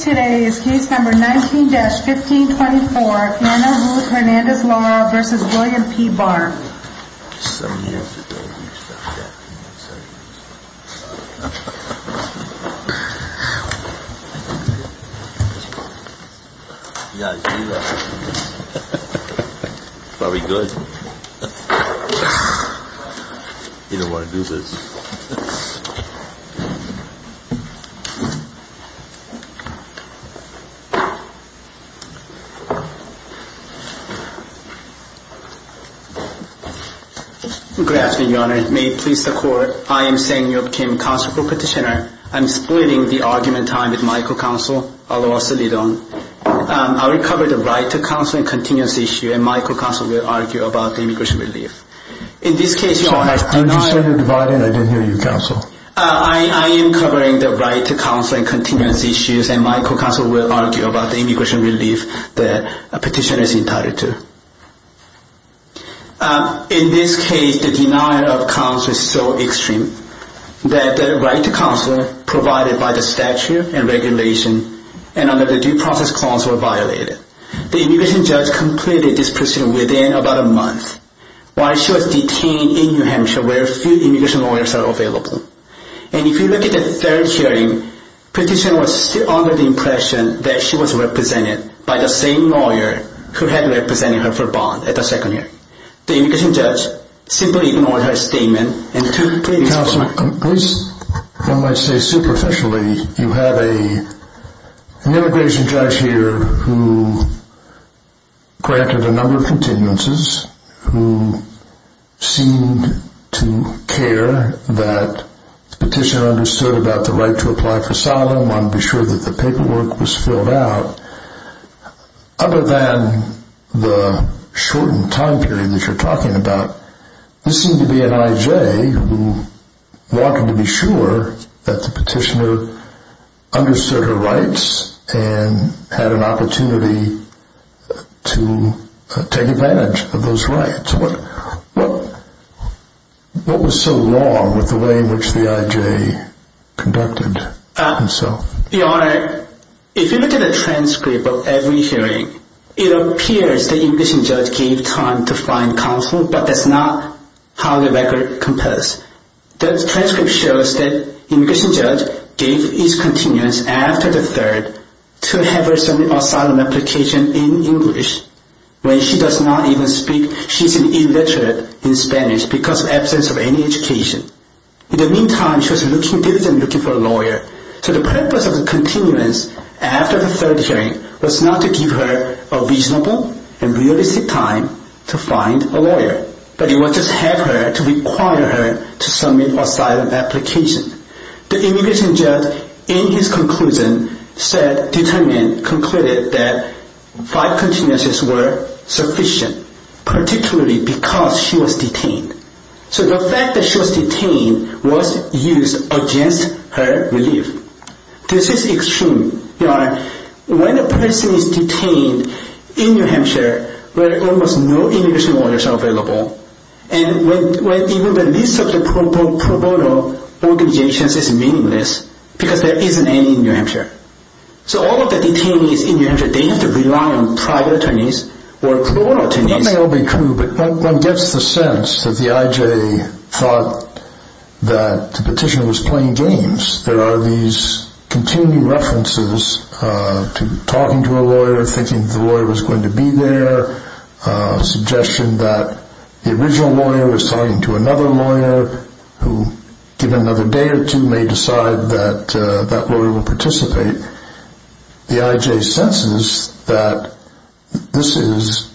Today is case number 19-1524, Anna Ruth Hernandez-Lara v. William P. Barr Good afternoon, Your Honor. May it please the Court, I am Seng Yeop Kim, counsel for Petitioner. I am splitting the argument time with Michael Counsel, aloha soledadon. I will cover the right to counsel and continuance issue, and Michael Counsel will argue about the immigration relief. In this case, the denial of counsel is so extreme that the right to counsel provided by the statute and regulation and under the due process clause were violated. The immigration judge completed this procedure within about a month. While she was detained in New Hampshire, where few immigration lawyers are available. And if you look at the third hearing, Petitioner was still under the impression that she was represented by the same lawyer who had represented her for bond at the second hearing. The immigration judge simply ignored her statement and took the case from her. Counsel, at least one might say superficially, you have an immigration judge here who granted a number of continuances, who seemed to care that Petitioner understood about the right to apply for asylum, wanted to be sure that the paperwork was filled out. Other than the shortened time period that you're talking about, this seemed to be an I.J. who wanted to be sure that the petitioner understood her rights and had an opportunity to take advantage of those rights. What was so wrong with the way in which the I.J. conducted himself? Your Honor, if you look at the transcript of every hearing, it appears that the immigration judge gave time to find counsel, but that's not how the record compares. The transcript shows that the immigration judge gave each continuance after the third to have her submit an asylum application in English. When she does not even speak, she's illiterate in Spanish because of absence of any education. In the meantime, she was looking for a lawyer, so the purpose of the continuance after the third hearing was not to give her a reasonable and realistic time to find a lawyer, but it was to help her, to require her to submit an asylum application. The immigration judge, in his conclusion, concluded that five continuances were sufficient, particularly because she was detained. So the fact that she was detained was used against her belief. Your Honor, this is extreme. When a person is detained in New Hampshire, where almost no immigration lawyers are available, and when even the list of the pro bono organizations is meaningless, because there isn't any in New Hampshire. So all of the detainees in New Hampshire, they have to rely on private attorneys or parole attorneys. That may all be true, but one gets the sense that the I.J. thought that the petitioner was playing games. There are these continuing references to talking to a lawyer, thinking that the lawyer was going to be there, a suggestion that the original lawyer was talking to another lawyer who, given another day or two, may decide that that lawyer will participate. The I.J. senses that this is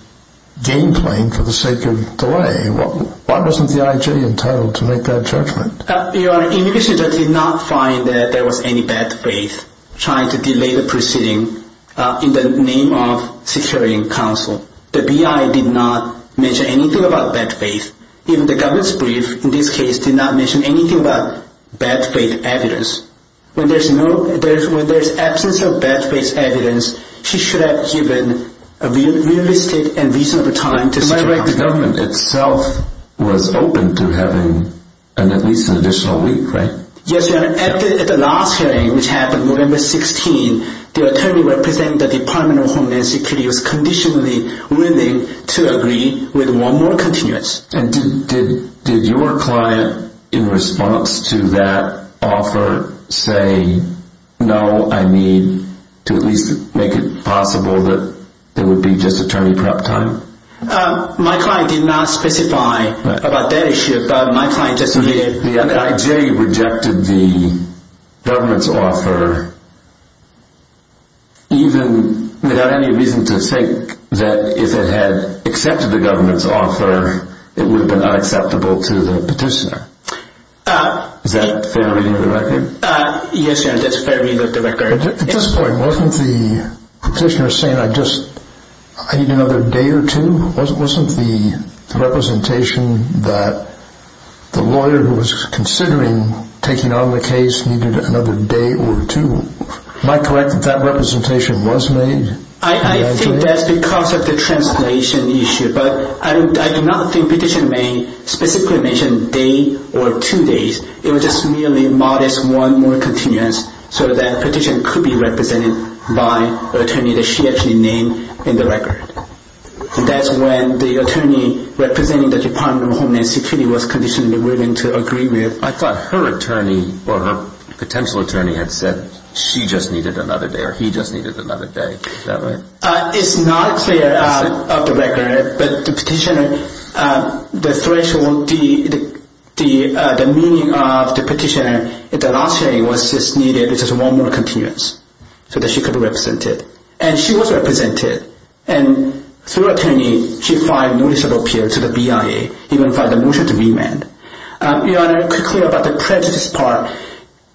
game playing for the sake of delay. Why wasn't the I.J. entitled to make that judgment? Your Honor, immigration judge did not find that there was any bad faith trying to delay the proceeding in the name of securing counsel. The B.I. did not mention anything about bad faith. Even the government's brief, in this case, did not mention anything about bad faith evidence. When there's absence of bad faith evidence, she should have given a realistic and reasonable time to secure counsel. Your Honor, the government itself was open to having at least an additional week, right? Yes, Your Honor. At the last hearing, which happened November 16, the attorney representing the Department of Homeland Security was conditionally willing to agree with one more continuous. And did your client, in response to that offer, say, no, I need to at least make it possible that there would be just attorney prep time? My client did not specify about that issue, but my client just admitted. The I.J. rejected the government's offer, even without any reason to think that if it had accepted the government's offer, it would have been unacceptable to the petitioner. Is that a fair reading of the record? Yes, Your Honor, that's a fair reading of the record. At this point, wasn't the petitioner saying, I need another day or two? Wasn't the representation that the lawyer who was considering taking on the case needed another day or two? Am I correct that that representation was made? I think that's because of the translation issue, but I do not think the petitioner specifically mentioned a day or two days. It was just merely modest one more continuous so that the petitioner could be represented by an attorney that she actually named in the record. And that's when the attorney representing the Department of Homeland Security was conditionally willing to agree with. I thought her attorney or her potential attorney had said she just needed another day or he just needed another day. Is that right? It's not clear of the record, but the petitioner, the threshold, the meaning of the petitioner last year was just needed one more continuous so that she could be represented. And she was represented. And through an attorney, she filed a notice of appeal to the BIA, even filed a motion to remand. Your Honor, quickly about the prejudice part.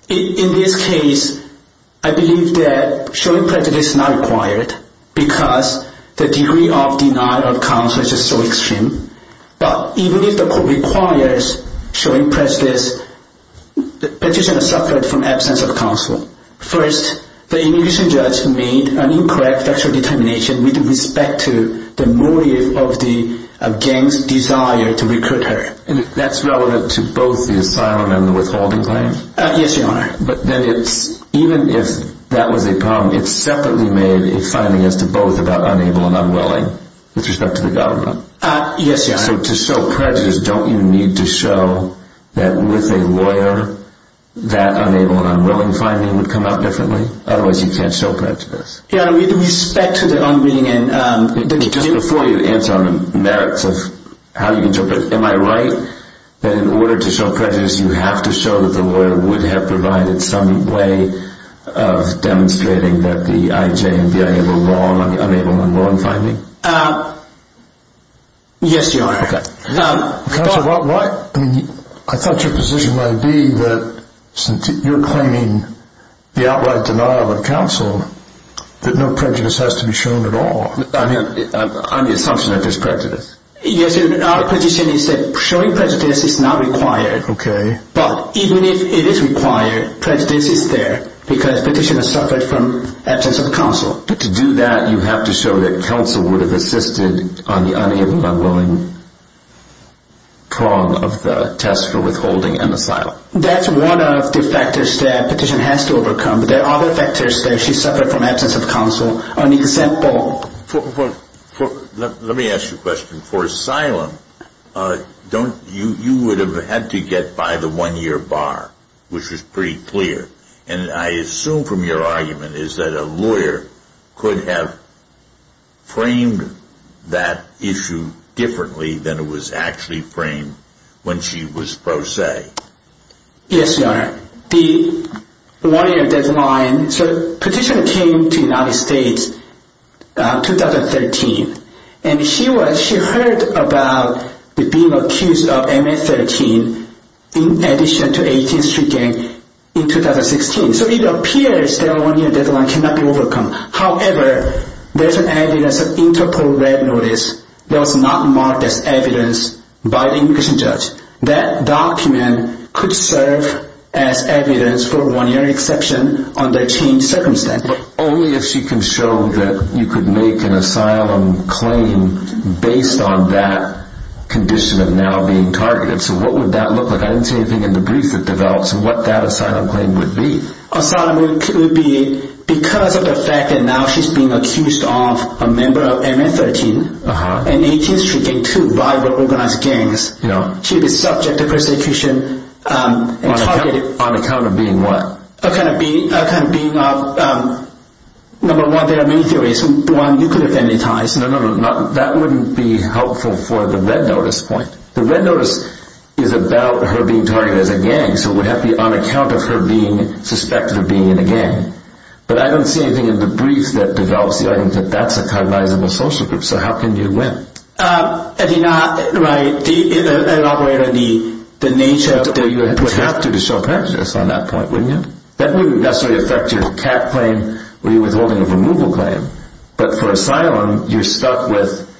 In this case, I believe that showing prejudice is not required because the degree of denial of counsel is just so extreme. But even if the court requires showing prejudice, the petitioner suffered from absence of counsel. First, the immigration judge made an incorrect factual determination with respect to the motive of the gang's desire to recruit her. And that's relevant to both the asylum and the withholding claim? Yes, Your Honor. But then it's, even if that was a problem, it's separately made a finding as to both about unable and unwilling with respect to the government. Yes, Your Honor. So to show prejudice, don't you need to show that with a lawyer that unable and unwilling finding would come out differently? Otherwise, you can't show prejudice. Your Honor, with respect to the unwilling and... Just before you answer on the merits of how you interpret, am I right that in order to show prejudice, you have to show that the lawyer would have provided some way of demonstrating that the IJ and BIA were wrong on the unable and unwilling finding? Yes, Your Honor. Counsel, I thought your position might be that since you're claiming the outright denial of counsel, that no prejudice has to be shown at all. I'm the assumption that there's prejudice. Yes, Your Honor. Our position is that showing prejudice is not required. Okay. But even if it is required, prejudice is there because petitioner suffered from absence of counsel. But to do that, you have to show that counsel would have assisted on the unable and unwilling prong of the test for withholding and asylum. That's one of the factors that petitioner has to overcome. There are other factors that she suffered from absence of counsel. An example... Let me ask you a question. For asylum, you would have had to get by the one-year bar, which was pretty clear. And I assume from your argument is that a lawyer could have framed that issue differently than it was actually framed when she was pro se. Yes, Your Honor. The one-year deadline... So petitioner came to United States in 2013. And she heard about being accused of MA-13 in addition to 18th Street Gang in 2016. So it appears that one-year deadline cannot be overcome. However, there's an evidence of Interpol Red Notice that was not marked as evidence by the immigration judge. That document could serve as evidence for one-year exception under changed circumstances. But only if she can show that you could make an asylum claim based on that condition of now being targeted. So what would that look like? I didn't see anything in the brief that develops what that asylum claim would be. Asylum would be because of the fact that now she's being accused of a member of MA-13 and 18th Street Gang, two violent organized gangs. She'd be subject to persecution and targeted. On account of being what? On account of being... Number one, there are many theories. One, you could have amortized. No, no, no. That wouldn't be helpful for the Red Notice point. The Red Notice is about her being targeted as a gang. So it would have to be on account of her being suspected of being in a gang. But I don't see anything in the brief that develops the argument that that's a cognizable social group. So how can you win? I mean, I operate on the nature of the... You would have to show prejudice on that point, wouldn't you? That wouldn't necessarily affect your CAT claim or your withholding of removal claim. But for asylum, you're stuck with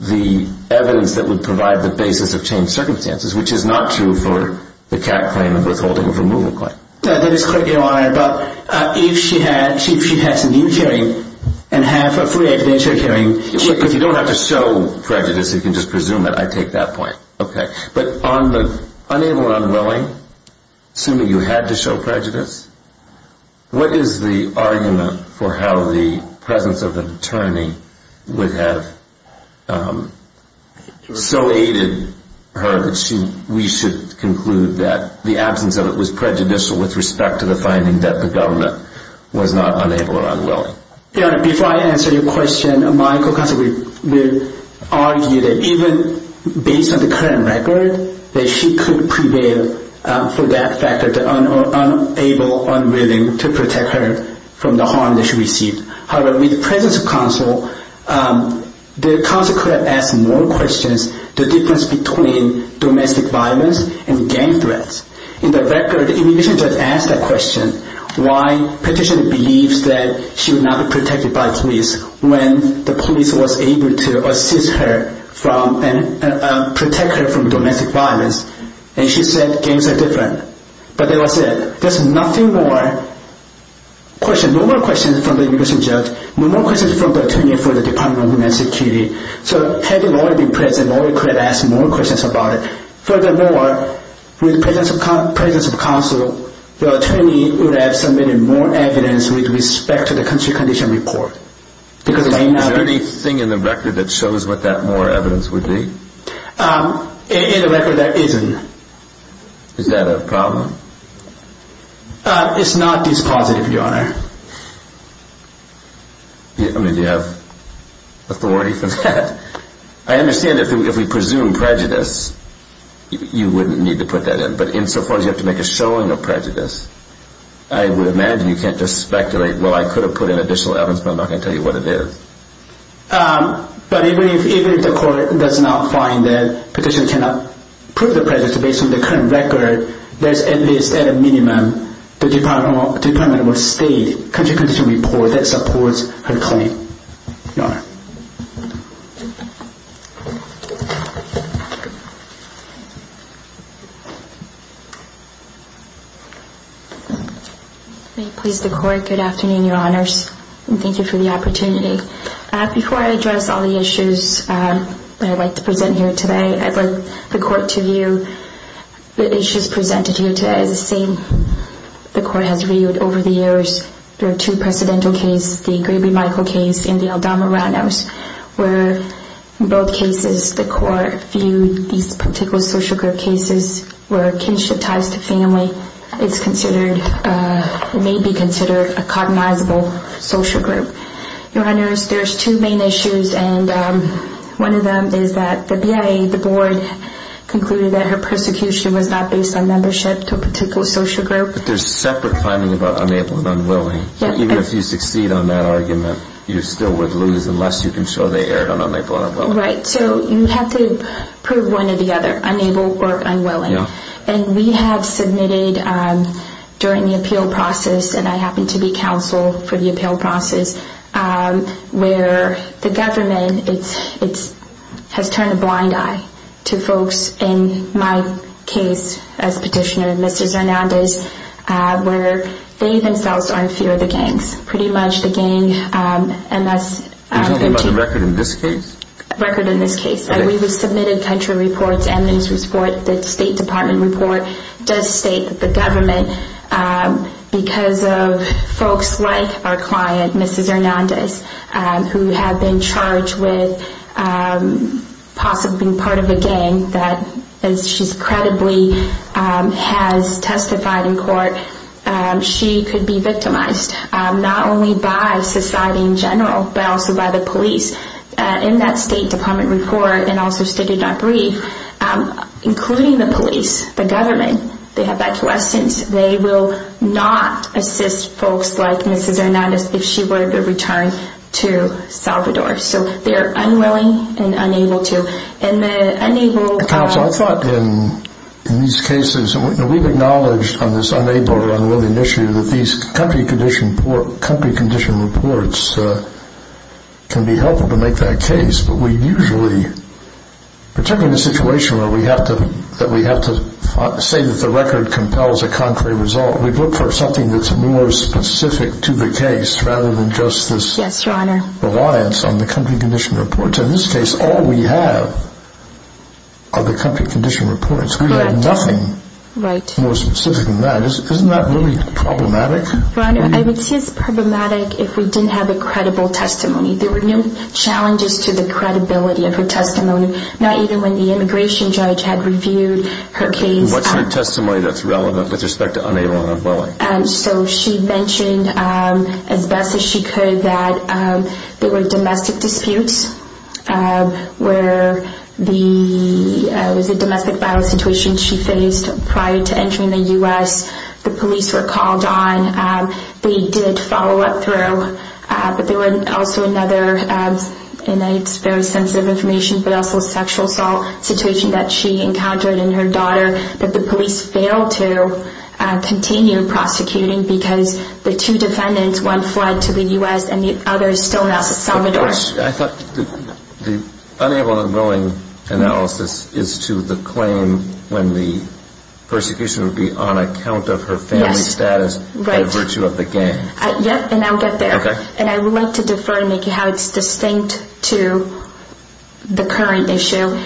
the evidence that would provide the basis of changed circumstances, which is not true for the CAT claim and withholding of removal claim. That is correct, Your Honor, but if she had... If she had some new hearing and had her pre-existing hearing... If you don't have to show prejudice, you can just presume it. I take that point. Okay. But on the unable and unwilling, assuming you had to show prejudice, what is the argument for how the presence of an attorney would have so aided her that we should conclude that the absence of it was prejudicial with respect to the finding that the government was not unable or unwilling? Your Honor, before I answer your question, Michael Custer would argue that even based on the current record, that she could prevail for that factor, the unable or unwilling, to protect her from the harm that she received. However, with the presence of counsel, the counsel could have asked more questions, the difference between domestic violence and gang threats. In the record, immigration judge asked that question, why petitioner believes that she would not be protected by police when the police was able to assist her and protect her from domestic violence. And she said, gangs are different. But that was it. There's nothing more questions, no more questions from the immigration judge, no more questions from the attorney for the Department of Homeland Security. So had the lawyer been present, the lawyer could have asked more questions about it. Furthermore, with the presence of counsel, the attorney would have submitted more evidence with respect to the country condition report. Is there anything in the record that shows what that more evidence would be? In the record, there isn't. Is that a problem? It's not dispositive, Your Honor. I mean, do you have authority for that? I understand if we presume prejudice, you wouldn't need to put that in. But insofar as you have to make a showing of prejudice, I would imagine you can't just speculate, well, I could have put in additional evidence, but I'm not going to tell you what it is. But even if the court does not find that petitioner cannot prove the prejudice based on the current record, there's at least, at a minimum, the Department of State country condition report that supports her claim. Your Honor. May it please the Court, good afternoon, Your Honors, and thank you for the opportunity. Before I address all the issues that I'd like to present here today, I'd like the Court to view the issues presented here today as the same the Court has viewed over the years. There are two precedental cases, the Grady-Michael case and the Aldama roundhouse, where in both cases the Court viewed these particular social group cases where kinship ties to family is considered, may be considered a cognizable social group. Your Honors, there's two main issues, and one of them is that the BIA, the board, concluded that her persecution was not based on membership to a particular social group. But there's separate finding about unable and unwilling. Even if you succeed on that argument, you still would lose unless you can show they erred on unable and unwilling. Right, so you have to prove one or the other, unable or unwilling. And we have submitted during the appeal process, and I happen to be counsel for the appeal process, where the government has turned a blind eye to folks in my case as petitioner, Mrs. Hernandez, where they themselves are in fear of the gangs, pretty much the gang MS-13. Are you talking about the record in this case? Record in this case. And we have submitted country reports and news reports. The State Department report does state that the government, because of folks like our client, Mrs. Hernandez, who have been charged with possibly being part of a gang that, as she credibly has testified in court, she could be victimized, not only by society in general, but also by the police. In that State Department report, and also stated in our brief, including the police, the government, they will not assist folks like Mrs. Hernandez if she were to return to Salvador. So they are unwilling and unable to. Counsel, I thought in these cases, and we've acknowledged on this unable or unwilling issue, that these country condition reports can be helpful to make that case. But we usually, particularly in a situation where we have to say that the record compels a contrary result, we look for something that's more specific to the case rather than just this reliance on the country condition reports. In this case, all we have are the country condition reports. We have nothing more specific than that. Isn't that really problematic? Your Honor, I would say it's problematic if we didn't have a credible testimony. There were no challenges to the credibility of her testimony, not even when the immigration judge had reviewed her case. What's her testimony that's relevant with respect to unable or unwilling? So she mentioned as best as she could that there were domestic disputes, where there was a domestic violence situation she faced prior to entering the U.S. The police were called on. They did follow up through. But there was also another, and it's very sensitive information, but also a sexual assault situation that she encountered in her daughter that the police failed to continue prosecuting because the two defendants, one fled to the U.S. and the other is still in El Salvador. I thought the unable or unwilling analysis is to the claim when the persecution would be on account of her family status. Right. By virtue of the gang. Yep, and I'll get there. Okay. And I would like to defer and make it how it's distinct to the current issue.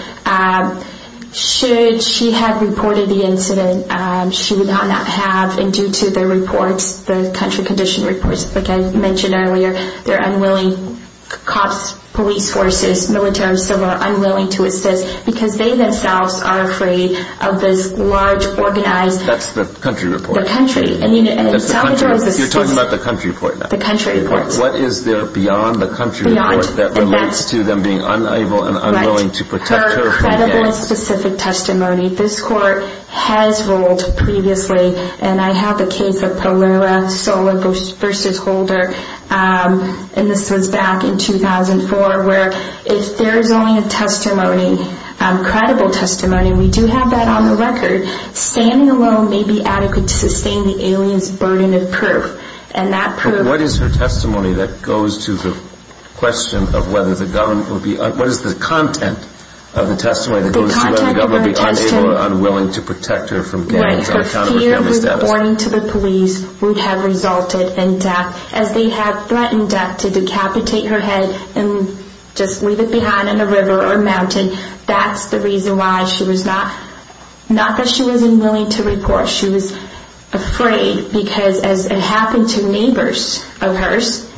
Should she have reported the incident, she would not have, and due to the reports, the country condition reports, like I mentioned earlier, they're unwilling, cops, police forces, military or civil are unwilling to assist because they themselves are afraid of this large, organized. That's the country report. You're talking about the country report now. The country report. What is there beyond the country report that relates to them being unable and unwilling to protect her from gang? Her credible and specific testimony. This court has ruled previously, and I have the case of Palua, Sola versus Holder, and this was back in 2004, where if there is only a testimony, credible testimony, and we do have that on the record, standing alone may be adequate to sustain the alien's burden of proof, and that proof. But what is her testimony that goes to the question of whether the government will be, what is the content of the testimony that goes to whether the government will be unable or unwilling to protect her from gangs on account of her family status? Right. Her fear of reporting to the police would have resulted in death, as they have threatened death to decapitate her head and just leave it behind in a river or mountain. That's the reason why she was not, not that she wasn't willing to report. She was afraid because as it happened to neighbors of hers,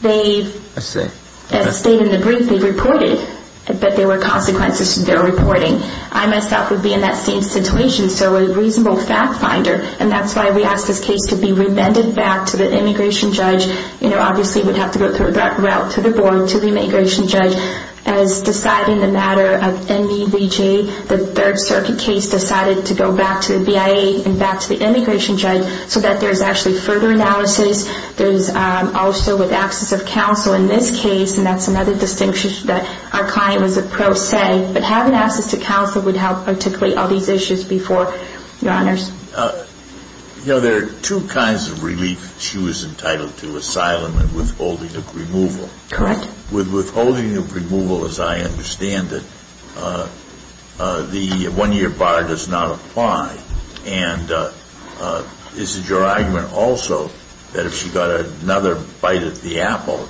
they, as stated in the brief, they reported that there were consequences to their reporting. I myself would be in that same situation, so a reasonable fact finder, and that's why we ask this case to be remanded back to the immigration judge. You know, obviously we'd have to go through that route to the board, to the immigration judge, as deciding the matter of MEBJ, the Third Circuit case decided to go back to the BIA and back to the immigration judge so that there's actually further analysis. There's also with access of counsel in this case, and that's another distinction that our client was a pro se, but having access to counsel would help articulate all these issues before your honors. You know, there are two kinds of relief she was entitled to, asylum and withholding of removal. Correct. With withholding of removal, as I understand it, the one-year bar does not apply, and is it your argument also that if she got another bite at the apple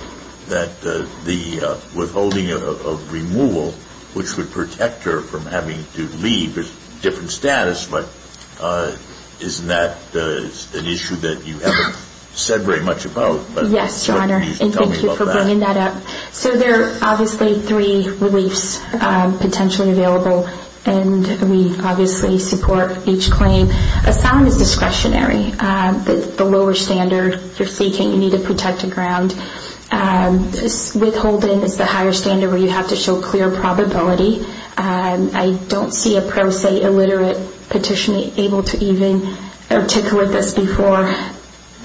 that the withholding of removal, which would protect her from having to leave a different status, but isn't that an issue that you haven't said very much about? Yes, your honor, and thank you for bringing that up. So there are obviously three reliefs potentially available, and we obviously support each claim. Asylum is discretionary. The lower standard you're seeking, you need to protect the ground. Withholding is the higher standard where you have to show clear probability. I don't see a pro se, illiterate petitioner able to even articulate this before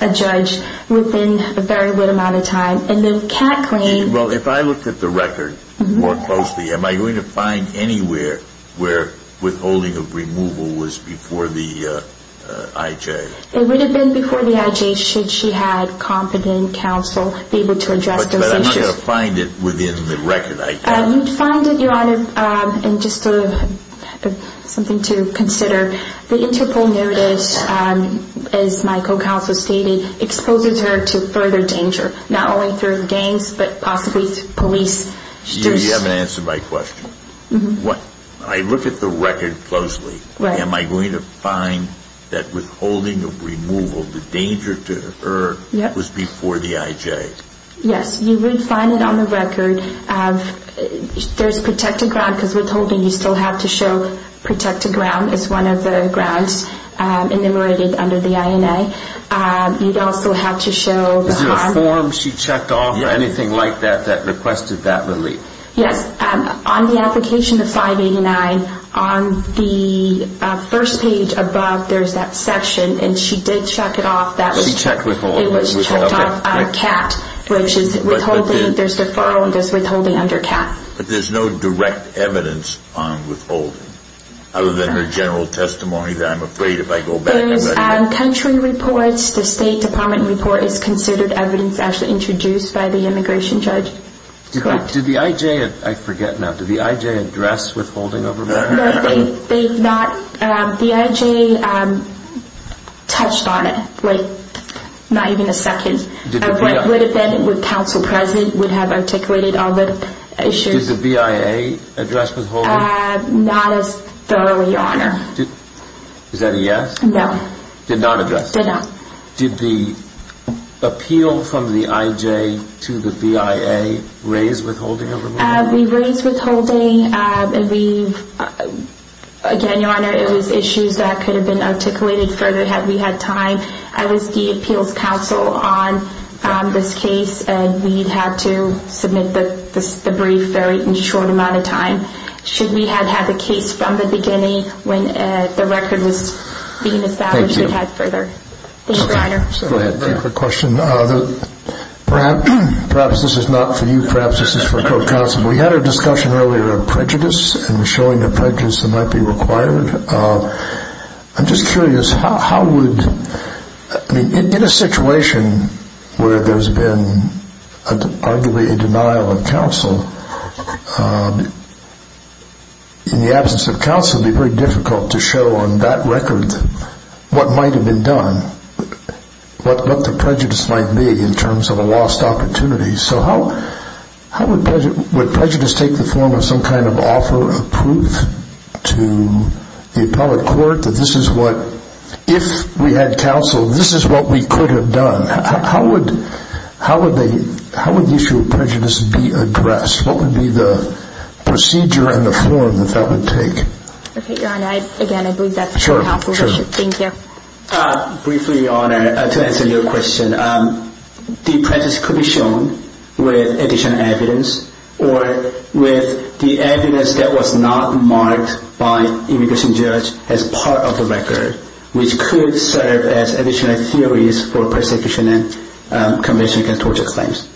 a judge within a very little amount of time. And then CAT claims. Well, if I looked at the record more closely, am I going to find anywhere where withholding of removal was before the IJ? It would have been before the IJ should she had competent counsel be able to address those issues. But I'm not going to find it within the record, I think. You'd find it, your honor, and just something to consider. The Interpol notice, as my co-counsel stated, exposes her to further danger, not only through gangs, but possibly police. You haven't answered my question. I look at the record closely. Right. Am I going to find that withholding of removal, the danger to her, was before the IJ? Yes. You would find it on the record. There's protected ground, because withholding, you still have to show protected ground as one of the grounds enumerated under the INA. You'd also have to show harm. Is there a form she checked off or anything like that that requested that relief? Yes. On the application of 589, on the first page above, there's that section, and she did check it off. Let me check withholding. It was checked off, CAT, which is withholding. There's deferral and there's withholding under CAT. But there's no direct evidence on withholding, other than her general testimony that I'm afraid if I go back, I'm going to- There's country reports. The State Department report is considered evidence actually introduced by the immigration judge. Did the IJ, I forget now, did the IJ address withholding over there? No, they did not. The IJ touched on it, like, not even a second. Would have been with counsel present, would have articulated all the issues. Did the BIA address withholding? Not as thoroughly on her. Is that a yes? No. Did not address? Did not. Did you have the IJ to the BIA raise withholding? We raised withholding. Again, Your Honor, it was issues that could have been articulated further had we had time. I was the appeals counsel on this case, and we had to submit the brief very short amount of time. Should we have had the case from the beginning when the record was being established, we had further. Thank you. Thank you, Your Honor. I have a question. Perhaps this is not for you. Perhaps this is for court counsel. We had a discussion earlier of prejudice and showing the prejudice that might be required. I'm just curious, how would- I mean, in a situation where there's been arguably a denial of counsel, in the absence of counsel, it would be very difficult to show on that record what might have been done, what the prejudice might be in terms of a lost opportunity. So how would prejudice take the form of some kind of offer of proof to the appellate court that this is what, if we had counsel, this is what we could have done? How would the issue of prejudice be addressed? What would be the procedure and the form that that would take? Okay, Your Honor. Again, I believe that's for counsel. Thank you. Briefly, Your Honor, to answer your question, the prejudice could be shown with additional evidence or with the evidence that was not marked by immigration judge as part of the record, which could serve as additional theories for persecution and conviction against torture claims.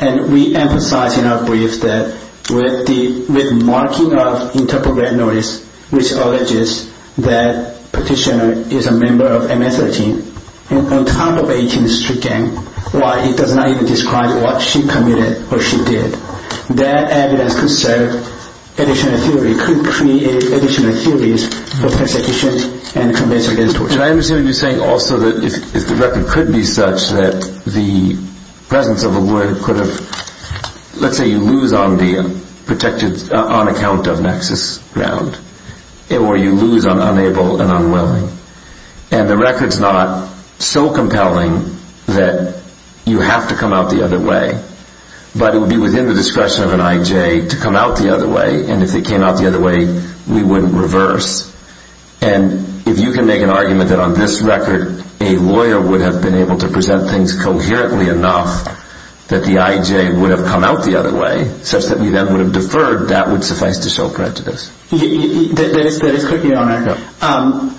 And we emphasize in our brief that with marking of interprogram notice, which alleges that petitioner is a member of MS-13, and on top of 18th Street gang, why it does not even describe what she committed or she did. That evidence could serve additional theory, could create additional theories for persecution and conviction against torture. I understand what you're saying also that if the record could be such that the presence of a lawyer could have, let's say you lose on the protected, on account of nexus ground, or you lose on unable and unwilling, and the record's not so compelling that you have to come out the other way, but it would be within the discretion of an I.J. to come out the other way, and if it came out the other way, we wouldn't reverse. And if you can make an argument that on this record, a lawyer would have been able to present things coherently enough that the I.J. would have come out the other way, such that we then would have deferred, that would suffice to show prejudice. That is correct, Your Honor.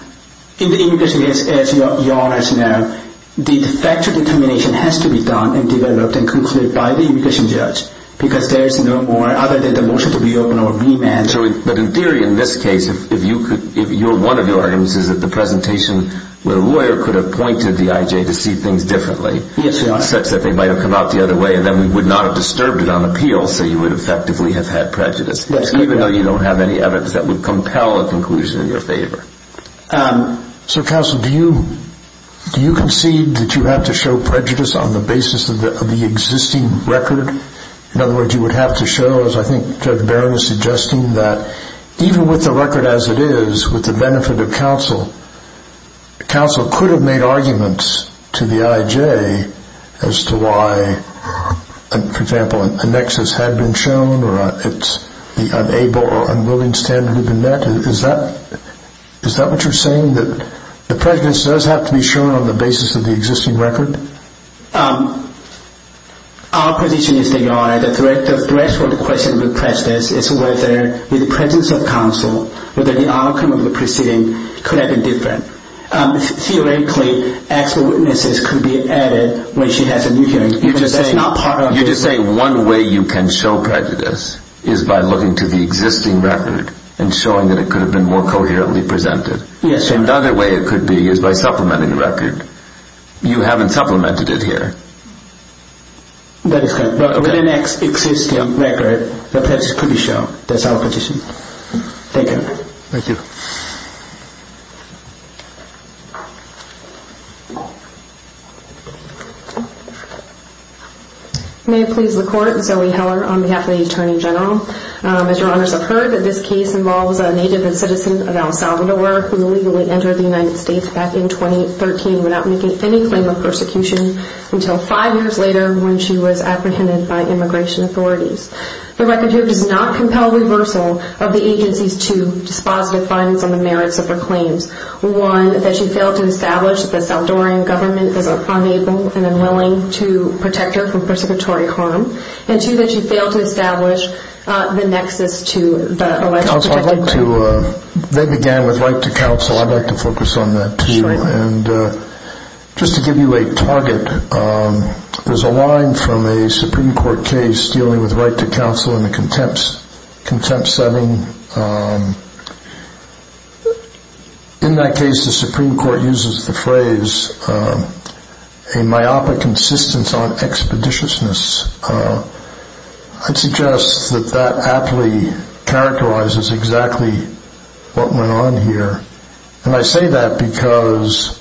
In the immigration case, as Your Honor should know, the factual determination has to be done and developed and concluded by the immigration judge, because there is no more other than the motion to reopen or remand. But in theory, in this case, if one of your arguments is that the presentation with a lawyer could have pointed the I.J. to see things differently, such that they might have come out the other way, and then we would not have disturbed it on appeal, so you would effectively have had prejudice, even though you don't have any evidence that would compel a conclusion in your favor. So, counsel, do you concede that you have to show prejudice on the basis of the existing record? In other words, you would have to show, as I think Judge Barron is suggesting, that even with the record as it is, with the benefit of counsel, counsel could have made arguments to the I.J. as to why, for example, a nexus had been shown or it's the unable or unwilling standard had been met? Is that what you're saying, that the prejudice does have to be shown on the basis of the existing record? Our position is that, Your Honor, the threshold question with prejudice is whether, with the presence of counsel, whether the outcome of the proceeding could have been different. Theoretically, actual witnesses could be added when she has a new hearing, You're just saying one way you can show prejudice is by looking to the existing record and showing that it could have been more coherently presented. Yes, Your Honor. Another way it could be is by supplementing the record. You haven't supplemented it here. That is correct. But with an existing record, the prejudice could be shown. That's our position. Thank you. Thank you. May it please the Court, Zoe Heller on behalf of the Attorney General. As Your Honors have heard, this case involves a native and citizen of El Salvador who illegally entered the United States back in 2013 without making any claim of persecution until five years later when she was apprehended by immigration authorities. The record here does not compel reversal of the agency's two dispositive findings on the merits of her claims. One, that she failed to establish that the Salvadoran government is unable and unwilling to protect her from persecutory harm. And two, that she failed to establish the nexus to the alleged protected women. Counsel, I'd like to beg again with right to counsel. I'd like to focus on that too. Sure. And just to give you a target, there's a line from a Supreme Court case dealing with right to counsel in a contempt setting. In that case, the Supreme Court uses the phrase, a myopic insistence on expeditiousness. I'd suggest that that aptly characterizes exactly what went on here. And I say that because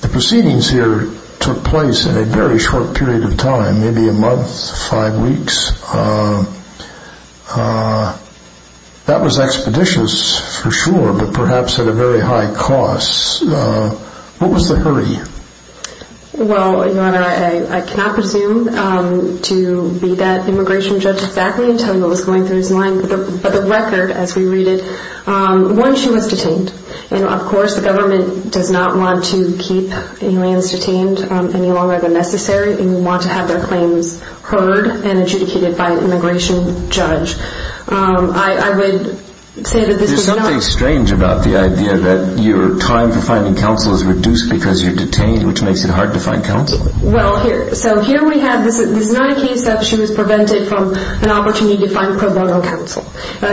the proceedings here took place in a very short period of time, maybe a month, five weeks. That was expeditious for sure, but perhaps at a very high cost. What was the hurry? Well, Your Honor, I cannot presume to be that immigration judge exactly until he was going through his line. But the record, as we read it, one, she was detained. And, of course, the government does not want to keep aliens detained any longer than necessary. They want to have their claims heard and adjudicated by an immigration judge. I would say that this was not. There's something strange about the idea that your time for finding counsel is reduced because you're detained, which makes it hard to find counsel. Well, here. So here we have this. This is not a case that she was prevented from an opportunity to find pro bono counsel.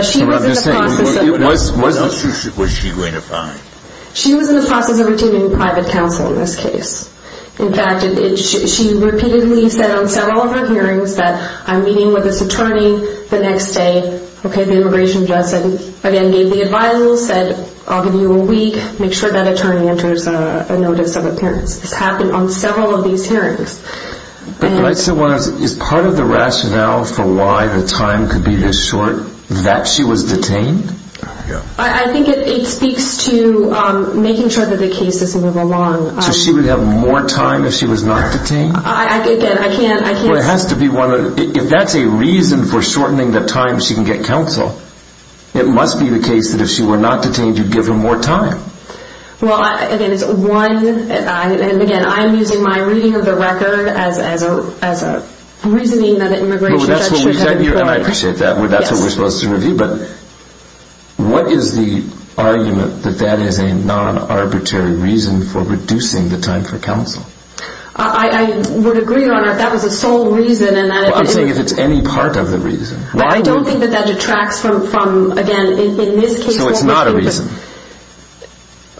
She was in the process of. What else was she going to find? She was in the process of retaining private counsel in this case. In fact, she repeatedly said on several of her hearings that I'm meeting with this attorney the next day. Okay. The immigration judge said, again, gave the advice, said, I'll give you a week. Make sure that attorney enters a notice of appearance. This happened on several of these hearings. But, Your Honor, is part of the rationale for why the time could be this short that she was detained? I think it speaks to making sure that the case doesn't move along. So she would have more time if she was not detained? Again, I can't. Well, it has to be one of. If that's a reason for shortening the time she can get counsel, it must be the case that if she were not detained, you'd give her more time. Well, again, it's one. And, again, I'm using my reading of the record as a reasoning that an immigration judge should have. And I appreciate that. That's what we're supposed to review. But what is the argument that that is a non-arbitrary reason for reducing the time for counsel? I would agree, Your Honor, if that was the sole reason. I'm saying if it's any part of the reason. I don't think that that detracts from, again, in this case. So it's not a reason?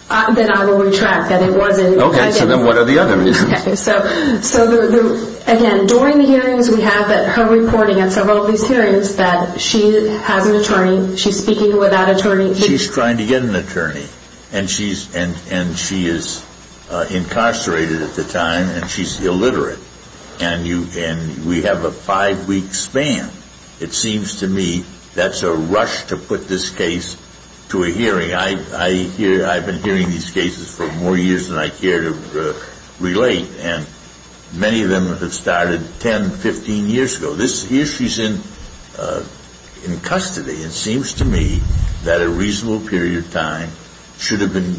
Then I will retract that it wasn't. Okay. So then what are the other reasons? Okay. So, again, during the hearings we have her reporting at several of these hearings that she has an attorney. She's speaking with that attorney. She's trying to get an attorney. And she is incarcerated at the time, and she's illiterate. And we have a five-week span. It seems to me that's a rush to put this case to a hearing. I've been hearing these cases for more years than I care to relate. And many of them have started 10, 15 years ago. This year she's in custody. It seems to me that a reasonable period of time should have been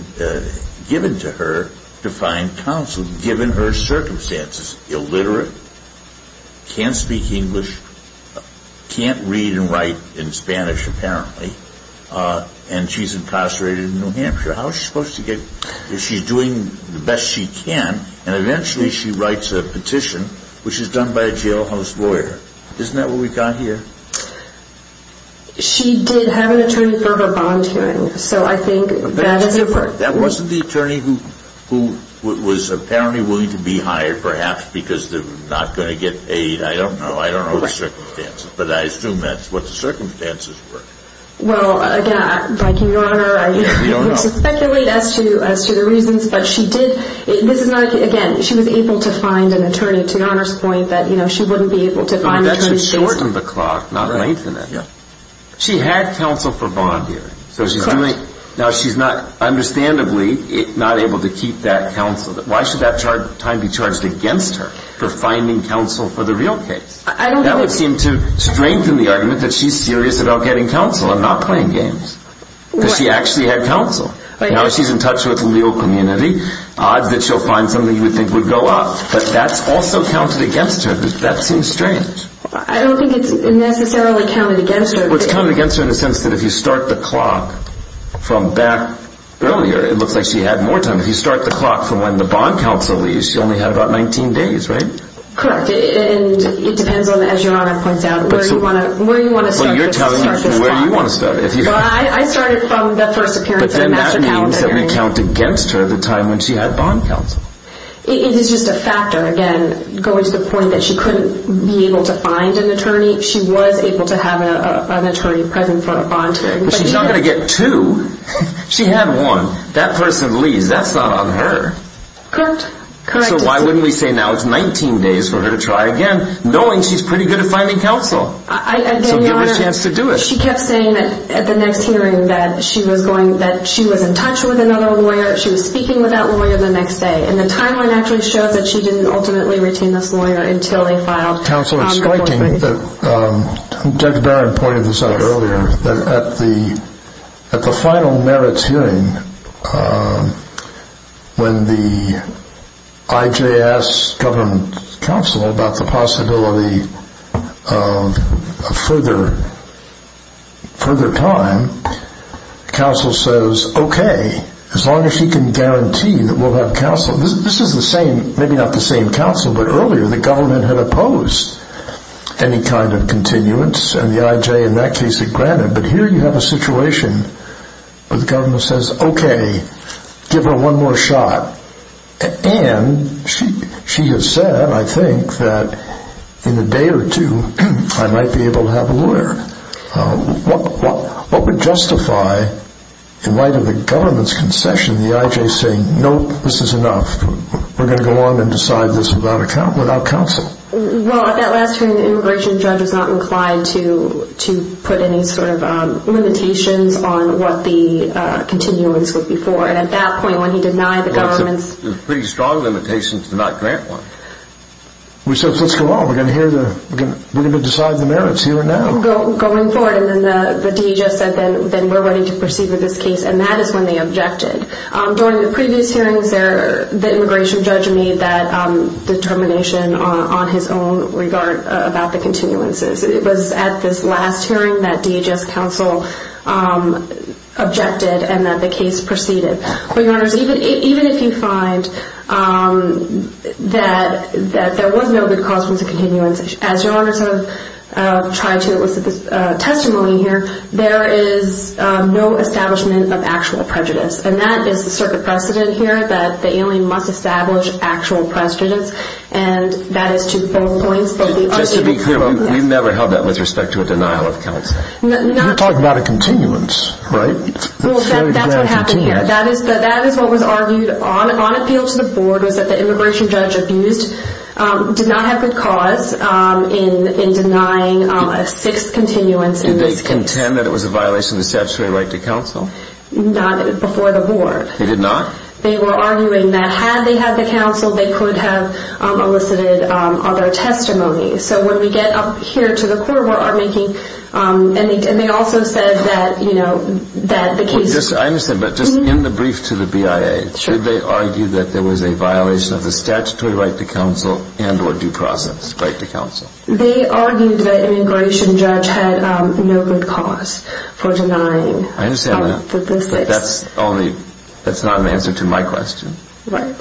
given to her to find counsel, given her circumstances. Illiterate, can't speak English, can't read and write in Spanish, apparently. And she's incarcerated in New Hampshire. How is she supposed to get – she's doing the best she can, and eventually she writes a petition, which is done by a jailhouse lawyer. Isn't that what we've got here? She did have an attorney for her bond hearing. So I think that is a – That wasn't the attorney who was apparently willing to be hired, perhaps because they're not going to get paid. I don't know. I don't know the circumstances. Well, again, Your Honor, I would speculate as to the reasons. But she did – this is not – again, she was able to find an attorney. To Your Honor's point, that she wouldn't be able to find an attorney. That should shorten the clock, not lengthen it. She had counsel for bond hearing. So she's doing – now, she's not – understandably, not able to keep that counsel. Why should that time be charged against her for finding counsel for the real case? That would seem to strengthen the argument that she's serious about getting counsel and not playing games. Because she actually had counsel. Now she's in touch with the legal community, odds that she'll find something you would think would go up. But that's also counted against her. That seems strange. I don't think it's necessarily counted against her. Well, it's counted against her in the sense that if you start the clock from back earlier, it looks like she had more time. If you start the clock from when the bond counsel leaves, she only had about 19 days, right? Correct. And it depends on, as Your Honor points out, where you want to start this clock. Well, you're telling me where you want to start it. Well, I started from the first appearance at a master counsel hearing. But then that means that we count against her the time when she had bond counsel. It is just a factor, again, going to the point that she couldn't be able to find an attorney. She was able to have an attorney present for a bond hearing. But she's not going to get two. She had one. That person leaves. That's not on her. Correct. Correct. And then we say now it's 19 days for her to try again, knowing she's pretty good at finding counsel. So give her a chance to do it. She kept saying that at the next hearing that she was in touch with another lawyer. She was speaking with that lawyer the next day. And the timeline actually shows that she didn't ultimately retain this lawyer until they filed the bond agreement. Counsel, it's striking that Dr. Barron pointed this out earlier, that at the final merits hearing, when the IJ asks government counsel about the possibility of further time, counsel says, okay, as long as she can guarantee that we'll have counsel. This is the same, maybe not the same counsel, but earlier the government had opposed any kind of continuance. And the IJ in that case had granted. But here you have a situation where the government says, okay, give her one more shot. And she has said, I think, that in a day or two I might be able to have a lawyer. What would justify, in light of the government's concession, the IJ saying, nope, this is enough. We're going to go on and decide this without counsel. Well, at that last hearing, the immigration judge was not inclined to put any sort of limitations on what the continuance would be for. And at that point, when he denied the government's- Pretty strong limitations to not grant one. We said, let's go on. We're going to decide the merits here and now. Going forward. And then the DE just said, then we're ready to proceed with this case. And that is when they objected. During the previous hearings, the immigration judge made that determination on his own regard about the continuances. It was at this last hearing that DHS counsel objected and that the case proceeded. Your Honors, even if you find that there was no good cause for the continuance, as Your Honors have tried to elicit testimony here, there is no establishment of actual prejudice. And that is the circuit precedent here that the alien must establish actual prejudice. And that is to both points. Just to be clear, we've never held that with respect to a denial of counsel. You're talking about a continuance, right? Well, that's what happened here. That is what was argued on appeal to the board was that the immigration judge abused, did not have good cause in denying a sixth continuance in this case. Did they contend that it was a violation of the statutory right to counsel? Not before the board. They did not? They were arguing that had they had the counsel, they could have elicited other testimony. So when we get up here to the court, we're making, and they also said that, you know, that the case. I understand, but just in the brief to the BIA, should they argue that there was a violation of the statutory right to counsel and or due process right to counsel? They argued that immigration judge had no good cause for denying. I understand that, but that's not an answer to my question. Right.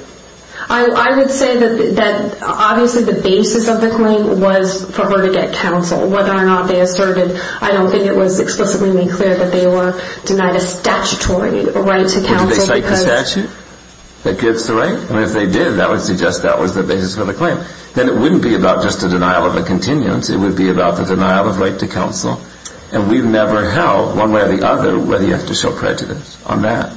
I would say that obviously the basis of the claim was for her to get counsel. Whether or not they asserted, I don't think it was explicitly made clear that they were denied a statutory right to counsel. Did they cite the statute that gives the right? And if they did, that would suggest that was the basis for the claim. Then it wouldn't be about just a denial of a continuance. It would be about the denial of right to counsel. And we've never held, one way or the other, whether you have to show prejudice on that.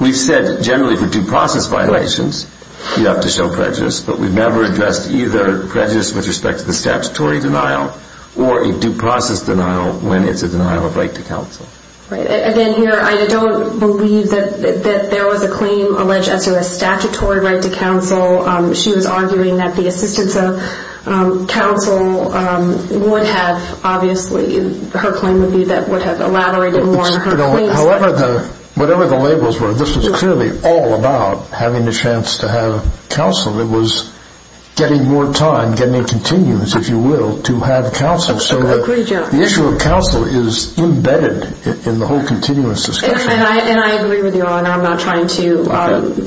We've said generally for due process violations, you have to show prejudice, but we've never addressed either prejudice with respect to the statutory denial or a due process denial when it's a denial of right to counsel. Right. Again, here, I don't believe that there was a claim alleged as to a statutory right to counsel. She was arguing that the assistance of counsel would have, obviously, her claim would be that would have elaborated more on her claims. However, whatever the labels were, this was clearly all about having a chance to have counsel. It was getting more time, getting a continuance, if you will, to have counsel. So the issue of counsel is embedded in the whole continuance discussion. And I agree with you all, and I'm not trying to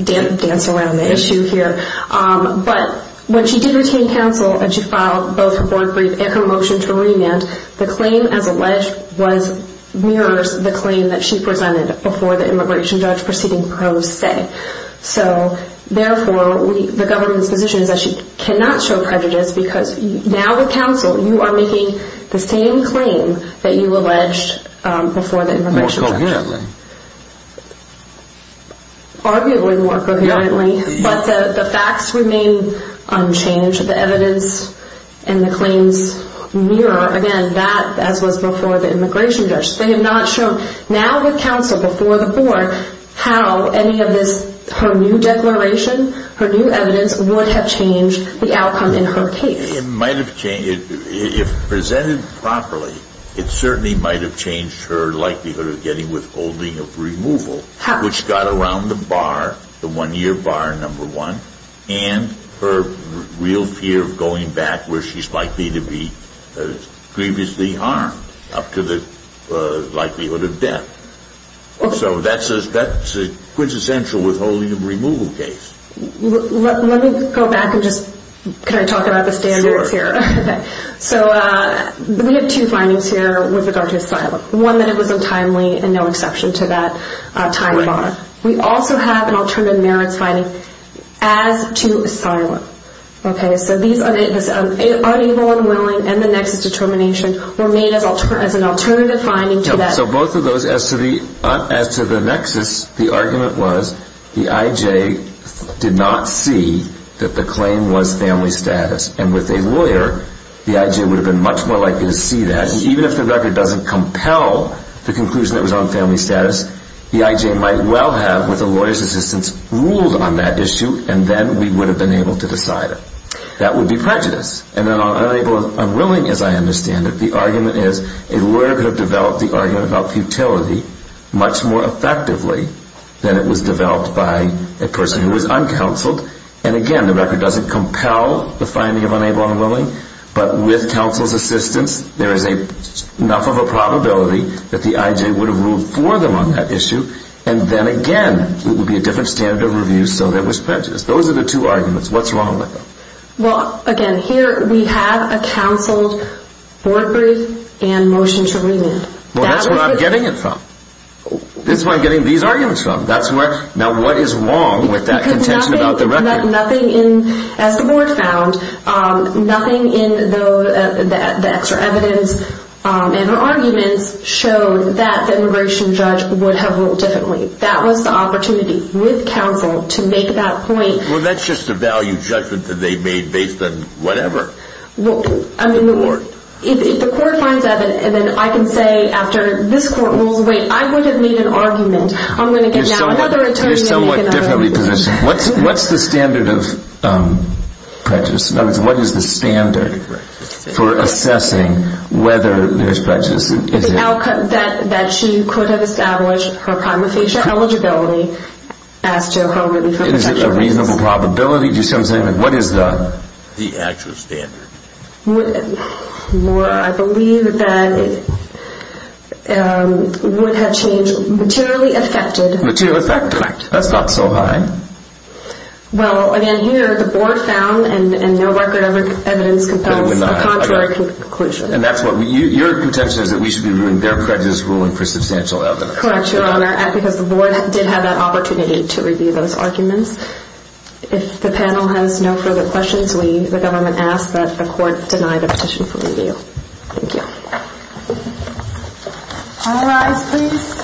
dance around the issue here. But when she did retain counsel and she filed both her board brief and her motion to remand, the claim as alleged mirrors the claim that she presented before the immigration judge proceeding pro se. So therefore, the government's position is that she cannot show prejudice because now with counsel, you are making the same claim that you alleged before the immigration judge. More coherently. Arguably more coherently. But the facts remain unchanged. The evidence and the claims mirror, again, that as was before the immigration judge. They have not shown. Now with counsel before the board, how any of this, her new declaration, her new evidence would have changed the outcome in her case. If presented properly, it certainly might have changed her likelihood of getting withholding of removal, which got around the bar, the one-year bar number one, and her real fear of going back where she's likely to be previously armed up to the likelihood of death. So that's a quintessential withholding of removal case. Let me go back and just kind of talk about the standards here. So we have two findings here with regard to asylum. One, that it was untimely and no exception to that time bar. We also have an alternative merits finding as to asylum. So these are unable and willing and the nexus determination were made as an alternative finding to that. So both of those, as to the nexus, the argument was the I.J. did not see that the claim was family status. And with a lawyer, the I.J. would have been much more likely to see that. Even if the record doesn't compel the conclusion that it was on family status, the I.J. might well have, with a lawyer's assistance, ruled on that issue, and then we would have been able to decide it. That would be prejudice. And then on unable and unwilling, as I understand it, the argument is a lawyer could have developed the argument about futility much more effectively than it was developed by a person who was uncounseled. And again, the record doesn't compel the finding of unable and willing, but with counsel's assistance, there is enough of a probability that the I.J. would have ruled for them on that issue. And then again, it would be a different standard of review, so that was prejudice. Those are the two arguments. What's wrong with them? Well, again, here we have a counseled board brief and motion to remand. Well, that's where I'm getting it from. That's where I'm getting these arguments from. Now, what is wrong with that contention about the record? Because nothing, as the board found, nothing in the extra evidence and the arguments showed that the immigration judge would have ruled differently. That was the opportunity, with counsel, to make that point. Well, that's just a value judgment that they made based on whatever. Well, I mean, if the court finds evidence, then I can say after this court rules, wait, I would have made an argument. I'm going to get another attorney to make an argument. They're somewhat differently positioned. What's the standard of prejudice? In other words, what is the standard for assessing whether there's prejudice? The outcome that she could have established her prima facie eligibility as to how many Is it a reasonable probability? Do you see what I'm saying? What is the actual standard? I believe that it would have changed materially affected. Materially affected. Correct. That's not so high. Well, again, here the board found and no record of evidence compels a contrary conclusion. And that's what your contention is that we should be ruling their prejudice ruling for substantial evidence. Correct, Your Honor. Because the board did have that opportunity to review those arguments. If the panel has no further questions, we, the government, ask that the court deny the petition for review. Thank you. All rise, please.